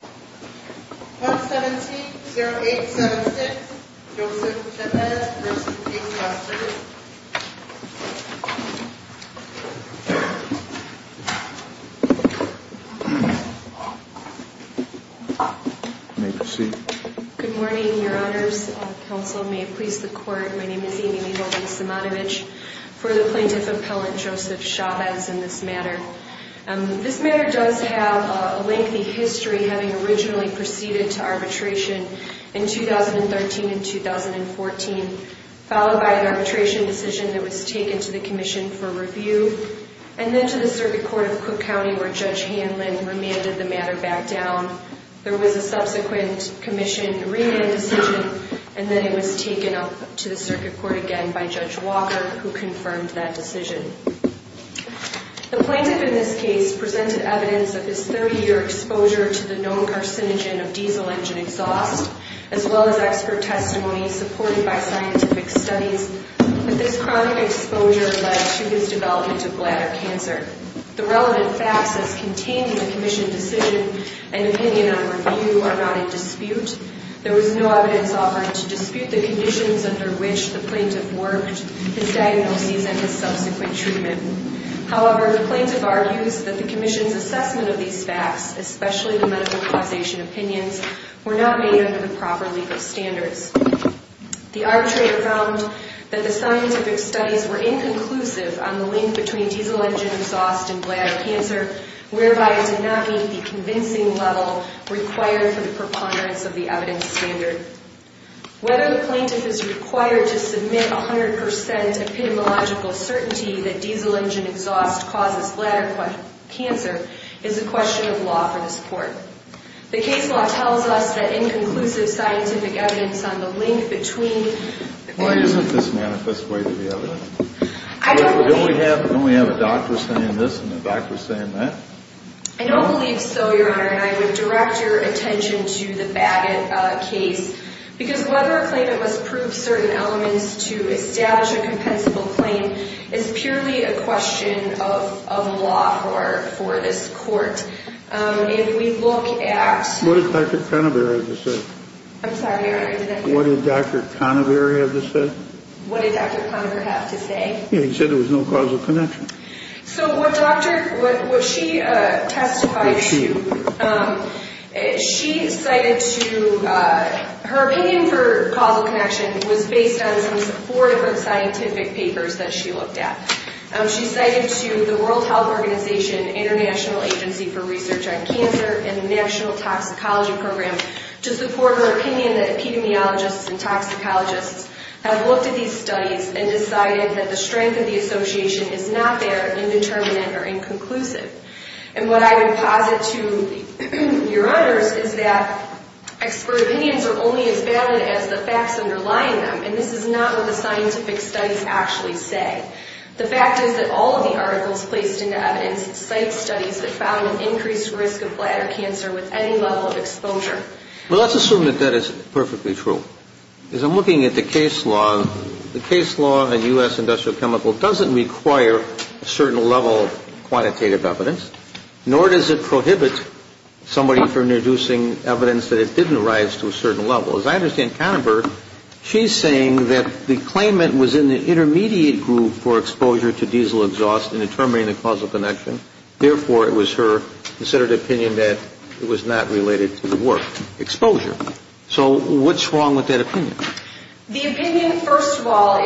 Good morning, your honors. Counsel, may it please the court, my name is Amy Mijovic-Samanovich, for the Plaintiff Appellant Joseph Chavez in this matter. This matter does have a lengthy history, having originally proceeded to arbitration in 2013 and 2014, followed by an arbitration decision that was taken to the commission for review, and then to the Circuit Court of Cook County where Judge Hanlon remanded the matter back down. There was a subsequent commission remand decision, and then it was taken up to the Circuit Court again by Judge Walker, who confirmed that decision. The plaintiff in this case presented evidence of his 30-year exposure to the known carcinogen of diesel engine exhaust, as well as expert testimony supported by scientific studies, but this chronic exposure led to his development of bladder cancer. The relevant facts as contained in the commission decision and opinion on review are not in dispute. There was no evidence offered to dispute the conditions under which the plaintiff worked, his diagnoses, and his subsequent treatment. However, the plaintiff argues that the commission's assessment of these facts, especially the medical causation opinions, were not made under the proper legal standards. The arbitrator found that the scientific studies were inconclusive on the link between diesel engine exhaust and bladder cancer, whereby it did not meet the convincing level required for the preponderance of the evidence standard. Whether the plaintiff is required to submit 100% epidemiological certainty that diesel engine exhaust causes bladder cancer is a question of law for the court. The case law tells us that inconclusive scientific evidence on the link between... Why isn't this manifest way to be evident? I don't believe... Don't we have a doctor saying this and a doctor saying that? I don't believe so, Your Honor, and I would direct your attention to the Bagot case, because whether a claimant must prove certain elements to establish a compensable claim is purely a question of law for this court. If we look at... What did Dr. Conover have to say? I'm sorry, Your Honor. What did Dr. Conover have to say? What did Dr. Conover have to say? He said there was no causal connection. So what she testified... Back to you. She cited to... Her opinion for causal connection was based on some four different scientific papers that she looked at. She cited to the World Health Organization, International Agency for Research on Cancer, and the National Toxicology Program to support her opinion that epidemiologists and toxicologists have looked at these studies and decided that the strength of the association is not there, indeterminate, or inconclusive. And what I would posit to Your Honors is that expert opinions are only as valid as the facts underlying them, and this is not what the scientific studies actually say. The fact is that all of the articles placed into evidence cite studies that found an increased risk of bladder cancer with any level of exposure. Well, let's assume that that is perfectly true. As I'm looking at the case law, the case law in U.S. Industrial Chemical doesn't require a certain level of quantitative evidence, nor does it prohibit somebody from introducing evidence that it didn't rise to a certain level. As I understand, Conover, she's saying that the claimant was in the intermediate group for exposure to diesel exhaust in determining the causal connection. Therefore, it was her considered opinion that it was not related to the work. Exposure. So what's wrong with that opinion? The opinion, first of all,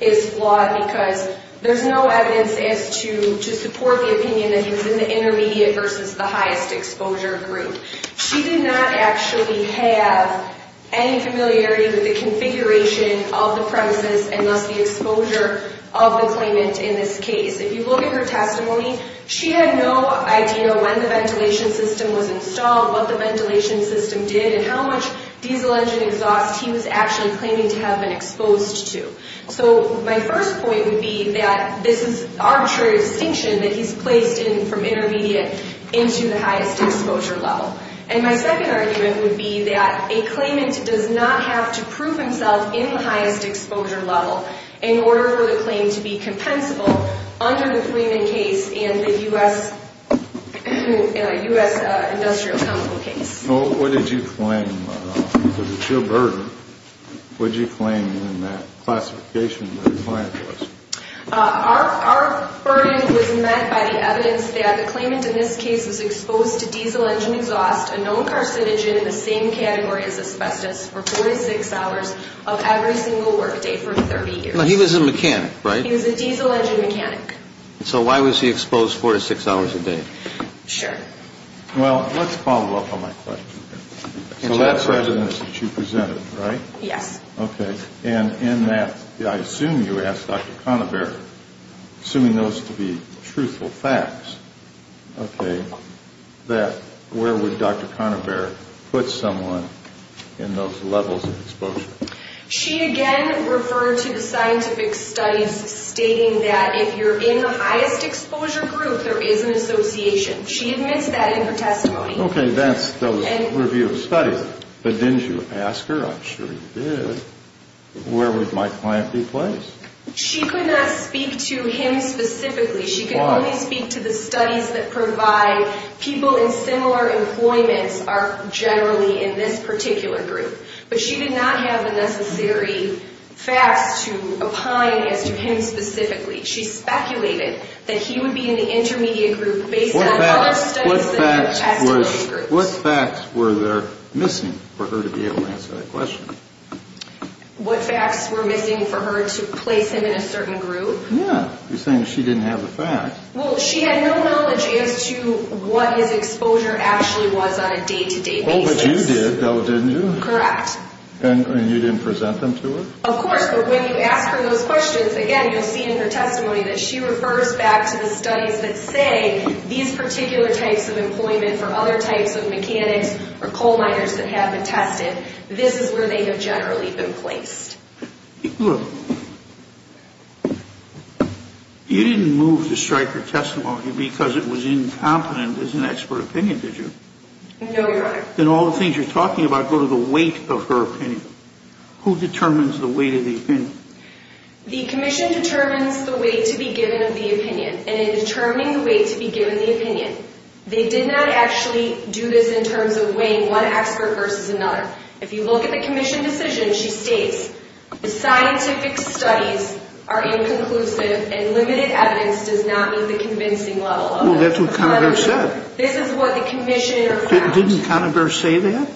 is flawed because there's no evidence as to support the opinion that he was in the intermediate versus the highest exposure group. She did not actually have any familiarity with the configuration of the premises and thus the exposure of the claimant in this case. If you look at her testimony, she had no idea when the ventilation system was installed, what the ventilation system did, and how much diesel engine exhaust he was actually claiming to have been exposed to. So my first point would be that this is arbitrary distinction that he's placed in from intermediate into the highest exposure level. And my second argument would be that a claimant does not have to prove himself in the highest exposure level in order for the claim to be compensable under the claimant case and the U.S. Industrial Chemical case. So what did you claim? Was it your burden? What did you claim in that classification that the client was? Our burden was met by the evidence that the claimant in this case was exposed to diesel engine exhaust, a known carcinogen in the same category as asbestos, for 46 hours of every single work day for 30 years. Now, he was a mechanic, right? He was a diesel engine mechanic. So why was he exposed 46 hours a day? Sure. Well, let's follow up on my question. So that's evidence that you presented, right? Yes. Okay. And in that, I assume you asked Dr. Conover, assuming those to be truthful facts, okay, that where would Dr. Conover put someone in those levels of exposure? She, again, referred to the scientific studies stating that if you're in the highest exposure group, there is an association. She admits that in her testimony. Okay, that's the review of studies. But didn't you ask her? I'm sure you did. Where would my client be placed? She could not speak to him specifically. Why? She could only speak to the studies that provide people in similar employments are generally in this particular group. But she did not have the necessary facts to opine as to him specifically. She speculated that he would be in the intermediate group based on other studies than her testimony group. What facts were there missing for her to be able to answer that question? What facts were missing for her to place him in a certain group? Yeah, you're saying she didn't have the facts. Well, she had no knowledge as to what his exposure actually was on a day-to-day basis. Oh, but you did, didn't you? Correct. And you didn't present them to her? Of course, but when you ask her those questions, again, you'll see in her testimony that she refers back to the studies that say these particular types of employment for other types of mechanics or coal miners that have been tested, this is where they have generally been placed. Look, you didn't move to strike her testimony because it was incompetent as an expert opinion, did you? No, Your Honor. Then all the things you're talking about go to the weight of her opinion. Who determines the weight of the opinion? The commission determines the weight to be given of the opinion, and in determining the weight to be given the opinion, they did not actually do this in terms of weighing one expert versus another. If you look at the commission decision, she states, the scientific studies are inconclusive and limited evidence does not meet the convincing level of evidence. Well, that's what Conover said. This is what the commission found. Didn't Conover say that?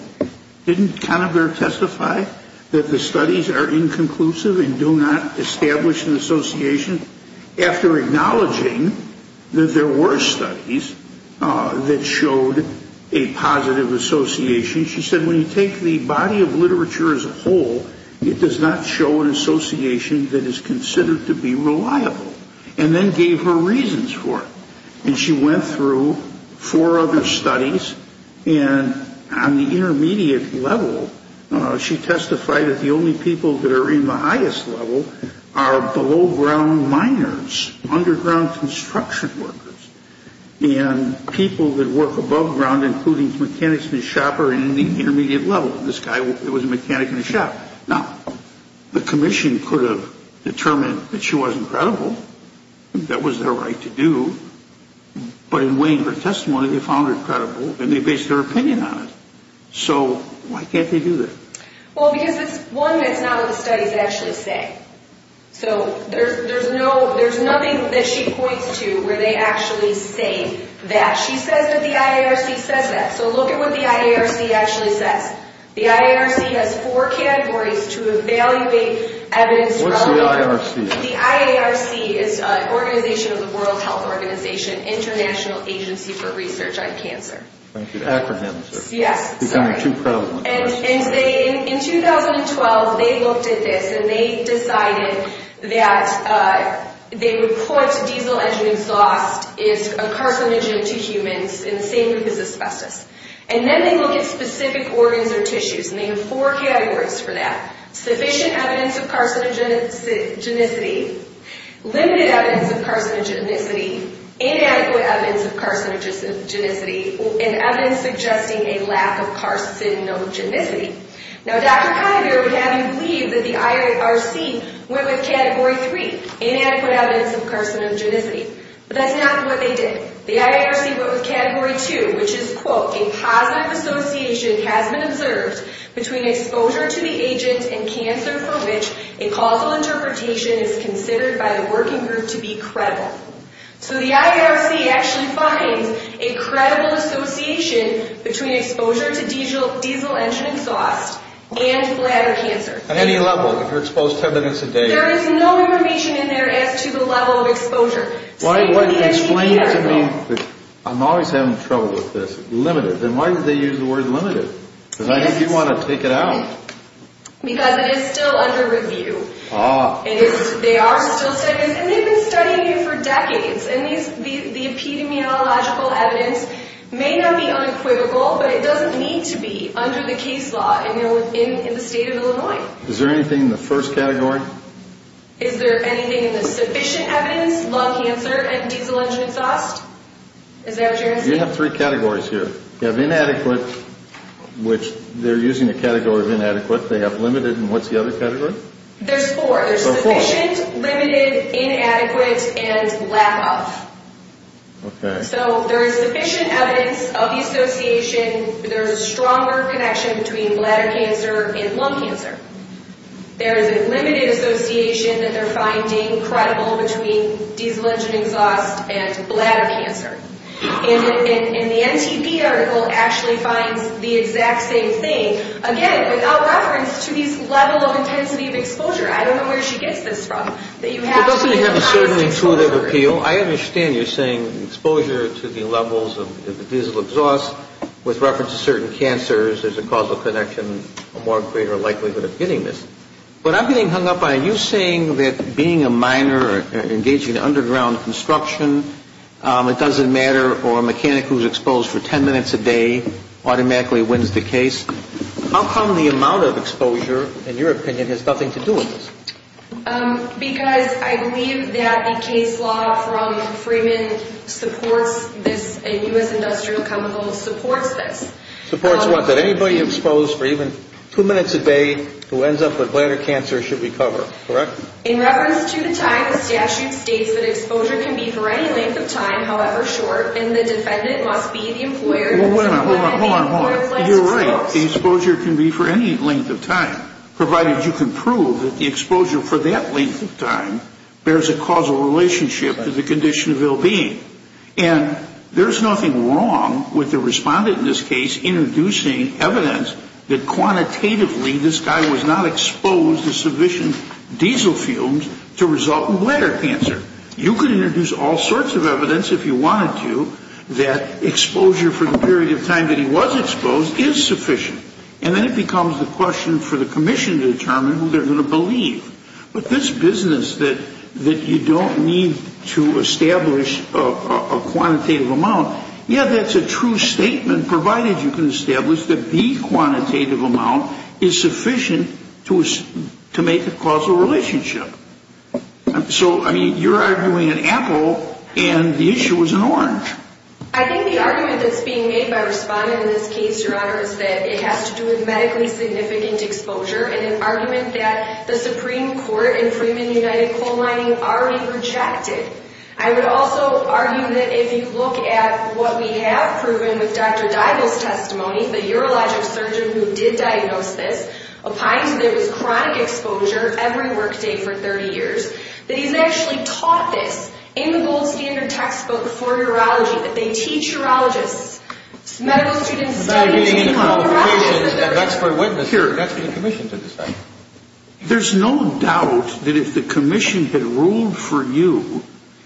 Didn't Conover testify that the studies are inconclusive and do not establish an association? After acknowledging that there were studies that showed a positive association, she said, when you take the body of literature as a whole, it does not show an association that is considered to be reliable, and then gave her reasons for it. And she went through four other studies, and on the intermediate level, she testified that the only people that are in the highest level are below ground miners, underground construction workers, and people that work above ground, including mechanics and a shopper in the intermediate level. This guy was a mechanic and a shopper. Now, the commission could have determined that she wasn't credible. That was their right to do. But in weighing her testimony, they found her credible, and they based their opinion on it. So why can't they do that? Well, because it's one that's not what the studies actually say. So there's nothing that she points to where they actually say that. She says that the IARC says that. So look at what the IARC actually says. The IARC has four categories to evaluate evidence reliability. What's the IARC? The IARC is an organization of the World Health Organization, International Agency for Research on Cancer. Thank you. Yes. Sorry. And in 2012, they looked at this, and they decided that they report diesel engine exhaust is a carcinogen to humans in the same group as asbestos. And then they look at specific organs or tissues, and they have four categories for that. Sufficient evidence of carcinogenicity, limited evidence of carcinogenicity, inadequate evidence of carcinogenicity, and evidence suggesting a lack of carcinogenicity. Now, Dr. Kiver would have you believe that the IARC went with Category 3, inadequate evidence of carcinogenicity. But that's not what they did. The IARC went with Category 2, which is, quote, a positive association has been observed between exposure to the agent and cancer for which a causal interpretation is considered by the working group to be credible. So the IARC actually finds a credible association between exposure to diesel engine exhaust and bladder cancer. At any level, if you're exposed 10 minutes a day? There is no information in there as to the level of exposure. Explain to me, I'm always having trouble with this, limited. Then why did they use the word limited? Because I think you want to take it out. Because it is still under review. They are still studying this, and they've been studying it for decades. And the epidemiological evidence may not be unequivocal, but it doesn't need to be under the case law in the state of Illinois. Is there anything in the first category? Is there anything in the sufficient evidence, lung cancer, and diesel engine exhaust? Is that what you're asking? You have three categories here. You have inadequate, which they're using the category of inadequate. They have limited, and what's the other category? There's four. So four. There's sufficient, limited, inadequate, and lack of. Okay. So there is sufficient evidence of the association. There is a stronger connection between bladder cancer and lung cancer. There is a limited association that they're finding credible between diesel engine exhaust and bladder cancer. And the NTP article actually finds the exact same thing, again, without reference to these levels of intensity of exposure. I don't know where she gets this from. It doesn't have a certain tool of appeal. I understand you're saying exposure to the levels of diesel exhaust with reference to certain cancers is a causal connection, and a more greater likelihood of getting this. But I'm getting hung up on you saying that being a miner or engaging in underground construction, it doesn't matter, or a mechanic who's exposed for ten minutes a day automatically wins the case. How come the amount of exposure, in your opinion, has nothing to do with this? Because I believe that the case law from Freeman supports this, and U.S. Industrial Chemicals supports this. Supports what? Supports that anybody exposed for even two minutes a day who ends up with bladder cancer should recover. Correct? In reference to the time, the statute states that exposure can be for any length of time, however short, and the defendant must be the employer. Well, wait a minute. Hold on. Hold on. You're right. The exposure can be for any length of time, provided you can prove that the exposure for that length of time bears a causal relationship to the condition of ill-being. And there's nothing wrong with the respondent in this case introducing evidence that quantitatively this guy was not exposed to sufficient diesel fumes to result in bladder cancer. You could introduce all sorts of evidence, if you wanted to, that exposure for the period of time that he was exposed is sufficient. And then it becomes the question for the commission to determine who they're going to believe. But this business that you don't need to establish a quantitative amount, yeah, that's a true statement, provided you can establish that the quantitative amount is sufficient to make a causal relationship. So, I mean, you're arguing an apple and the issue is an orange. I think the argument that's being made by the respondent in this case, Your Honor, is that it has to do with medically significant exposure and an argument that the Supreme Court in Freeman United Coal Mining already rejected. I would also argue that if you look at what we have proven with Dr. Deigel's testimony, the urologic surgeon who did diagnose this, opined that it was chronic exposure every workday for 30 years, that he's actually taught this in the gold standard textbook for urology, that they teach urologists, medical students, to take on urology. That's for the commission to decide. There's no doubt that if the commission had ruled for you,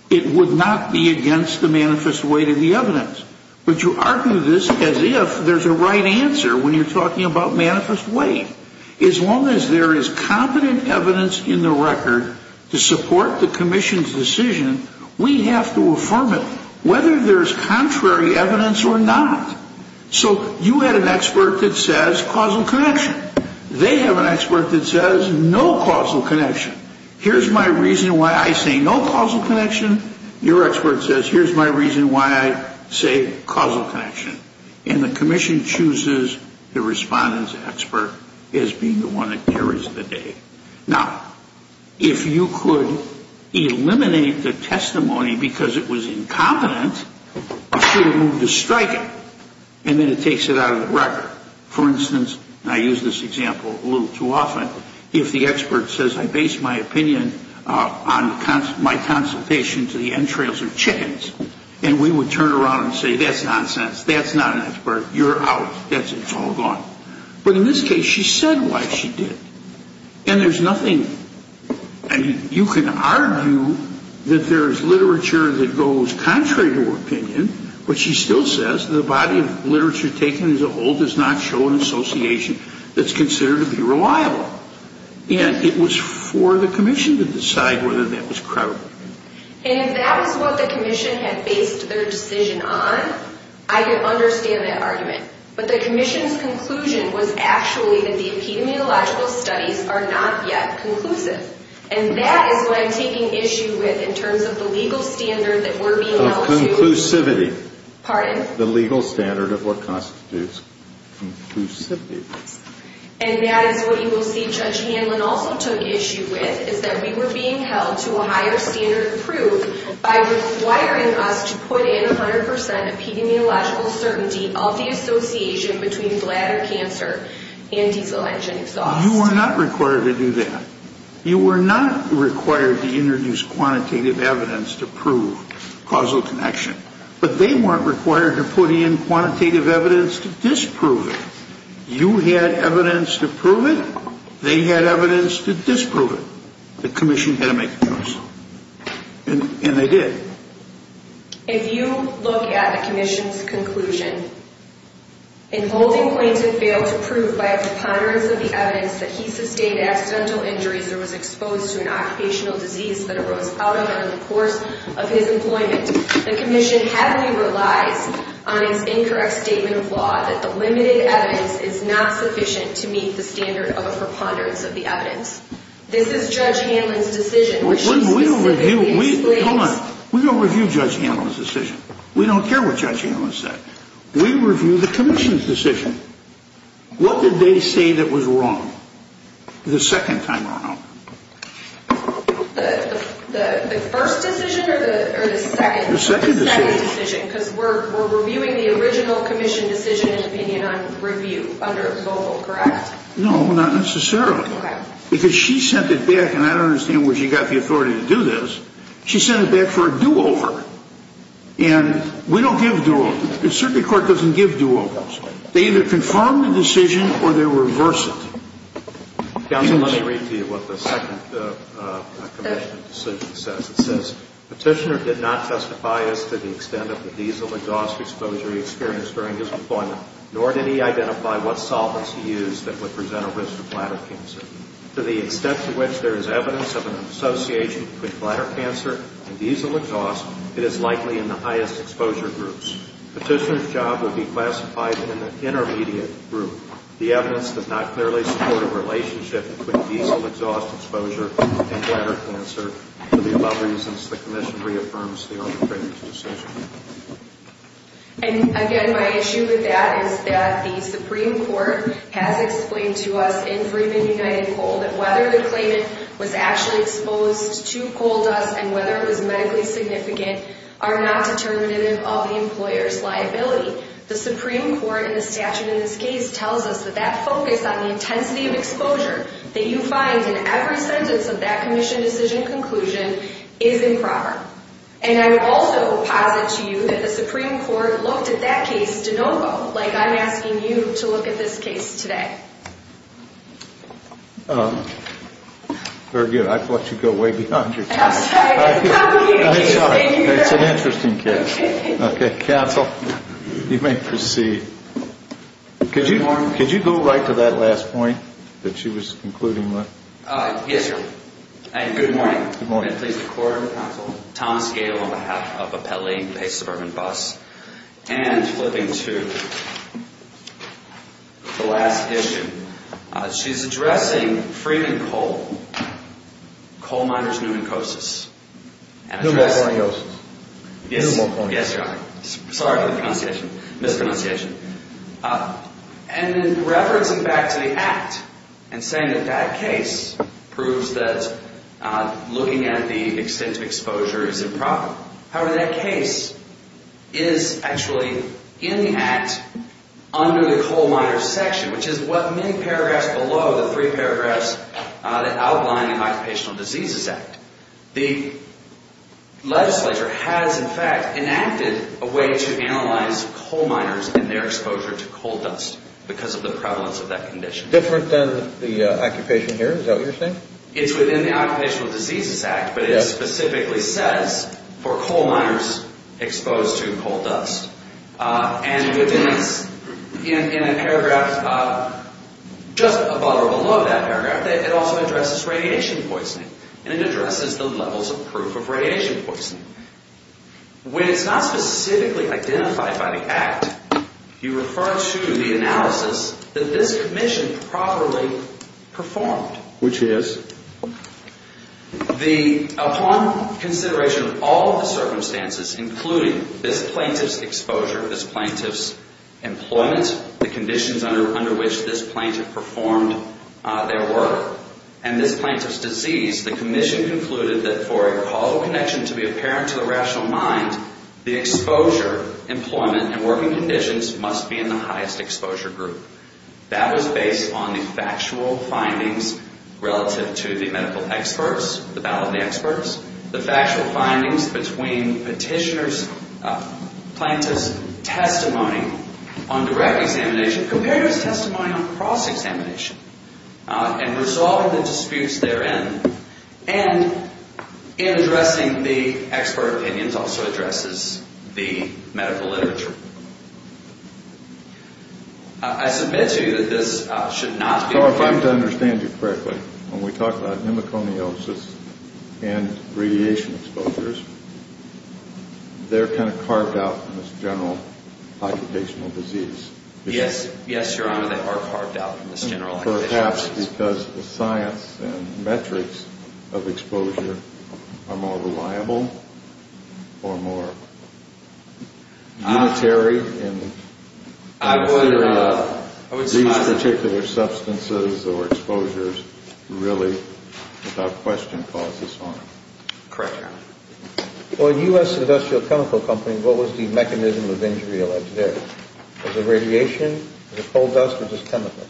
it would not be against the manifest weight of the evidence. But you argue this as if there's a right answer when you're talking about manifest weight. As long as there is competent evidence in the record to support the commission's decision, we have to affirm it, whether there's contrary evidence or not. So you had an expert that says causal connection. They have an expert that says no causal connection. Here's my reason why I say no causal connection. Your expert says here's my reason why I say causal connection. And the commission chooses the respondent's expert as being the one that carries the day. Now, if you could eliminate the testimony because it was incompetent, she would move to strike it, and then it takes it out of the record. For instance, and I use this example a little too often, if the expert says I base my opinion on my consultation to the entrails of chickens, and we would turn around and say that's nonsense, that's not an expert, you're out, that's it, it's all gone. But in this case, she said why she did. And there's nothing you can argue that there's literature that goes contrary to her opinion, but she still says the body of literature taken as a whole does not show an association that's considered to be reliable. And it was for the commission to decide whether that was credible. And if that was what the commission had based their decision on, I could understand that argument. But the commission's conclusion was actually that the epidemiological studies are not yet conclusive. And that is what I'm taking issue with in terms of the legal standard that we're being held to. Conclusivity. Pardon? The legal standard of what constitutes conclusivity. And that is what you will see Judge Hanlon also took issue with, is that we were being held to a higher standard of proof by requiring us to put in 100% epidemiological certainty of the association between bladder cancer and diesel engine exhaust. You were not required to do that. You were not required to introduce quantitative evidence to prove causal connection. But they weren't required to put in quantitative evidence to disprove it. You had evidence to prove it. They had evidence to disprove it. The commission had to make a choice. And they did. If you look at the commission's conclusion, in holding Quinton failed to prove by a preponderance of the evidence that he sustained accidental injuries or was exposed to an occupational disease that arose out of and in the course of his employment, the commission heavily relies on its incorrect statement of law that the limited evidence is not sufficient to meet the standard of a preponderance of the evidence. This is Judge Hanlon's decision. Hold on. We don't review Judge Hanlon's decision. We don't care what Judge Hanlon said. We review the commission's decision. What did they say that was wrong the second time around? The first decision or the second? The second decision. The second decision because we're reviewing the original commission decision in opinion on review under a mobile, correct? No, not necessarily. Okay. Because she sent it back, and I don't understand where she got the authority to do this. She sent it back for a do-over. And we don't give do-overs. The circuit court doesn't give do-overs. They either confirm the decision or they reverse it. Counsel, let me read to you what the second commission decision says. It says, Petitioner did not testify as to the extent of the diesel exhaust exposure he experienced during his employment, nor did he identify what solvents he used that would present a risk of bladder cancer. To the extent to which there is evidence of an association between bladder cancer and diesel exhaust, it is likely in the highest exposure groups. Petitioner's job would be classified in an intermediate group. The evidence does not clearly support a relationship between diesel exhaust exposure and bladder cancer for the above reasons the commission reaffirms the arbitrator's decision. And again, my issue with that is that the Supreme Court has explained to us in Freeman United Coal that whether the claimant was actually exposed to coal dust and whether it was medically significant are not determinative of the employer's liability. The Supreme Court in the statute in this case tells us that that focus on the intensity of exposure that you find in every sentence of that commission decision conclusion is improper. And I would also posit to you that the Supreme Court looked at that case de novo, like I'm asking you to look at this case today. Very good. I thought you'd go way beyond your time. I'm sorry. It's an interesting case. Okay. Counsel, you may proceed. Good morning. Could you go right to that last point that she was concluding with? Yes, sir. Good morning. Good morning. Can I please record? Counsel. Thomas Gale on behalf of Appelli, Pace Suburban Bus. And flipping to the last issue, she's addressing Freeman Coal, coal miners pneumocosis. Pneumoconiosis. Pneumoconiosis. Yes, Your Honor. Sorry for the mispronunciation. And then referencing back to the Act and saying that that case proves that looking at the extent of exposure is improper. However, that case is actually in the Act under the coal miners section, which is what many paragraphs below the three paragraphs that outline the Occupational Diseases Act. The legislature has, in fact, enacted a way to analyze coal miners and their exposure to coal dust because of the prevalence of that condition. Different than the occupation here? Is that what you're saying? It's within the Occupational Diseases Act, but it specifically says for coal miners exposed to coal dust. And within this, in a paragraph just above or below that paragraph, it also addresses radiation poisoning. And it addresses the levels of proof of radiation poisoning. When it's not specifically identified by the Act, you refer to the analysis that this commission probably performed. Which is? Upon consideration of all the circumstances, including this plaintiff's exposure, this plaintiff's employment, the conditions under which this plaintiff performed their work, and this plaintiff's disease, the commission concluded that for a call of connection to be apparent to the rational mind, the exposure, employment, and working conditions must be in the highest exposure group. That was based on the factual findings relative to the medical experts, the ballot experts. The factual findings between petitioner's, plaintiff's testimony on direct examination compared to his testimony on cross-examination. And resolving the disputes therein. And in addressing the expert opinions also addresses the medical literature. I submit to you that this should not be... If I'm to understand you correctly, when we talk about pneumoconiosis and radiation exposures, they're kind of carved out from this general occupational disease. Yes, Your Honor, they are carved out from this general occupational disease. Or perhaps because the science and metrics of exposure are more reliable or more unitary in the theory of these particular substances or exposures really without question cause this harm. Correct, Your Honor. For a U.S. industrial chemical company, what was the mechanism of injury alleged there? Was it radiation? Was it coal dust? Or just chemicals?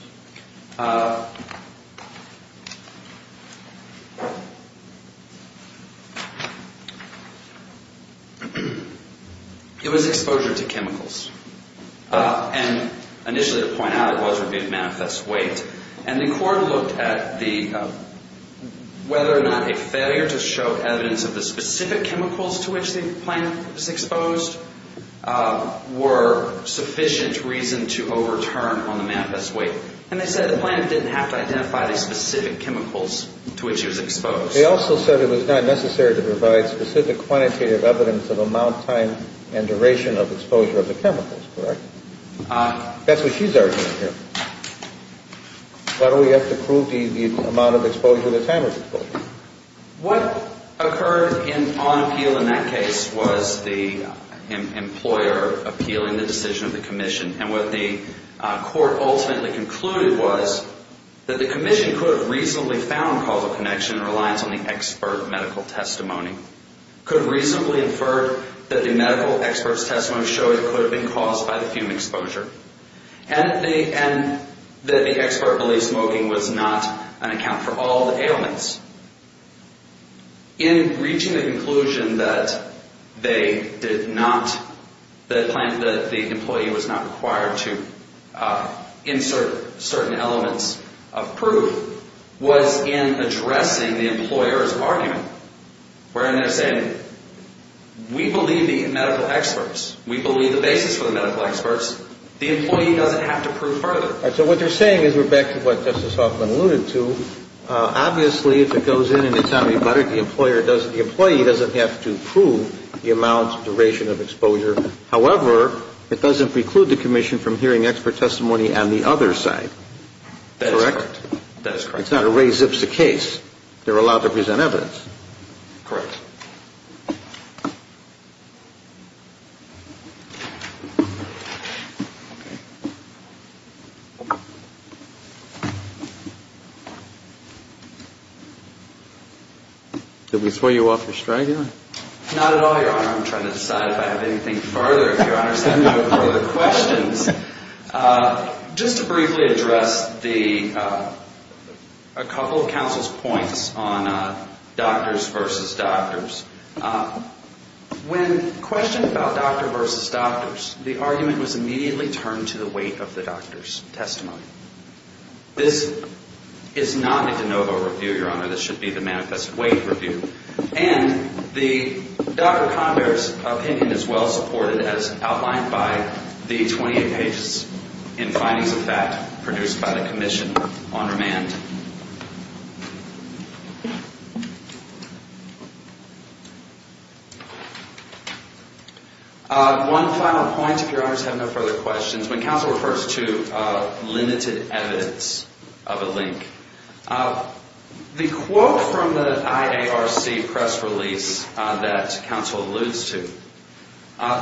It was exposure to chemicals. And initially to point out, it wasn't a big manifest weight. And the court looked at whether or not a failure to show evidence of the specific chemicals to which the plant was exposed were sufficient reason to overturn on the manifest weight. And they said the plant didn't have to identify the specific chemicals to which it was exposed. They also said it was not necessary to provide specific quantitative evidence of amount, time, and duration of exposure of the chemicals. Correct? That's what she's arguing here. Why do we have to prove the amount of exposure, the time of exposure? What occurred on appeal in that case was the employer appealing the decision of the commission. And what the court ultimately concluded was that the commission could have reasonably found causal connection in reliance on the expert medical testimony. Could have reasonably inferred that the medical expert's testimony showed it could have been caused by the fume exposure. And that the expert believed smoking was not an account for all the ailments. In reaching the conclusion that they did not, that the plant, that the employee was not required to insert certain elements of proof was in addressing the employer's argument. Wherein they're saying, we believe the medical experts. We believe the basis for the medical experts. The employee doesn't have to prove further. All right, so what they're saying is, we're back to what Justice Hoffman alluded to. Obviously, if it goes in and it's antibiotic, the employer doesn't, the employee doesn't have to prove the amount, duration of exposure. However, it doesn't preclude the commission from hearing expert testimony on the other side. That is correct. Correct? That is correct. It's not a Ray Zipsa case. They're allowed to present evidence. Correct. Okay. Did we throw you off your stride here? Not at all, Your Honor. I'm trying to decide if I have anything further. If Your Honor has any further questions. Just to briefly address the, a couple of counsel's points on doctors versus doctors. When questioned about doctor versus doctors, the argument was immediately turned to the weight of the doctor's testimony. This is not a de novo review, Your Honor. This should be the manifest weight review. And the doctor's opinion is well supported as outlined by the 28 pages in findings of fact produced by the commission on remand. One final point, if Your Honor has no further questions. When counsel refers to limited evidence of a link. The quote from the IARC press release that counsel alludes to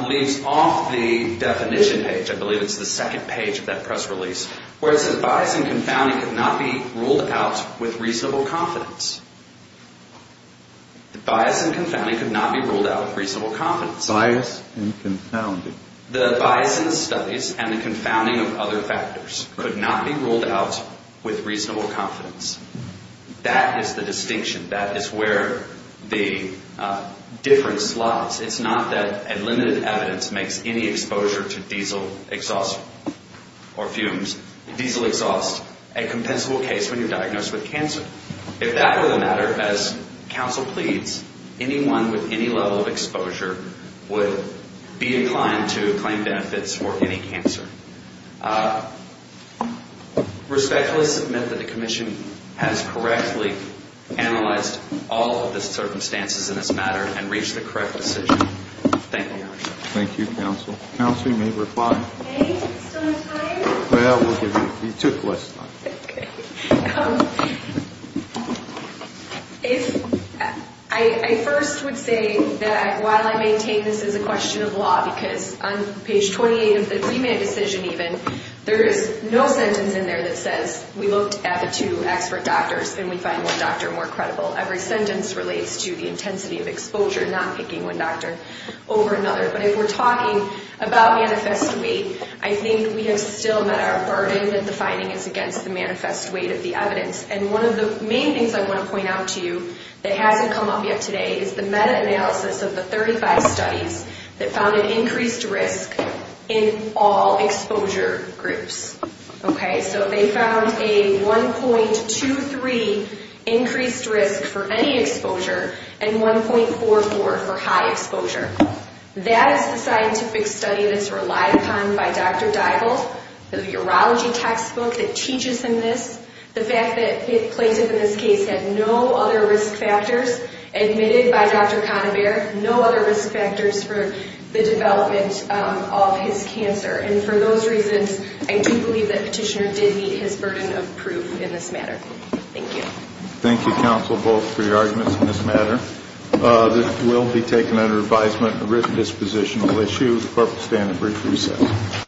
leaves off the definition page. I believe it's the second page of that press release where it says bias and confounding could not be ruled out with reasonable confidence. The bias and confounding could not be ruled out with reasonable confidence. Bias and confounding. The bias in studies and the confounding of other factors could not be ruled out with reasonable confidence. That is the distinction. That is where the difference lies. It's not that a limited evidence makes any exposure to diesel exhaust or fumes, diesel exhaust, a compensable case when you're diagnosed with cancer. If that were the matter, as counsel pleads, anyone with any level of exposure would be inclined to claim benefits for any cancer. Respectfully submit that the commission has correctly analyzed all of the circumstances in this matter and reached the correct decision. Thank you, Your Honor. Thank you, counsel. Counsel, you may reply. Hey, still not tired? Well, we'll give you, you took less time. Okay. I first would say that while I maintain this is a question of law, because on page 28 of the premed decision even, there is no sentence in there that says we looked at the two expert doctors and we find one doctor more credible. Every sentence relates to the intensity of exposure, not picking one doctor over another. But if we're talking about manifest weight, I think we have still met our burden that the finding is against the manifest weight of the evidence. And one of the main things I want to point out to you that hasn't come up yet today is the meta-analysis of the 35 studies that found an increased risk in all exposure groups. Okay? So they found a 1.23 increased risk for any exposure and 1.44 for high exposure. That is the scientific study that's relied upon by Dr. Dybald, the urology textbook that teaches him this. The fact that Plaintiff in this case had no other risk factors admitted by Dr. Conover, no other risk factors for the development of his cancer. And for those reasons, I do believe that Petitioner did meet his burden of proof in this matter. Thank you. Thank you, counsel, both for your arguments in this matter. This will be taken under advisement. The written disposition will eschew. The clerk will stand and brief recess.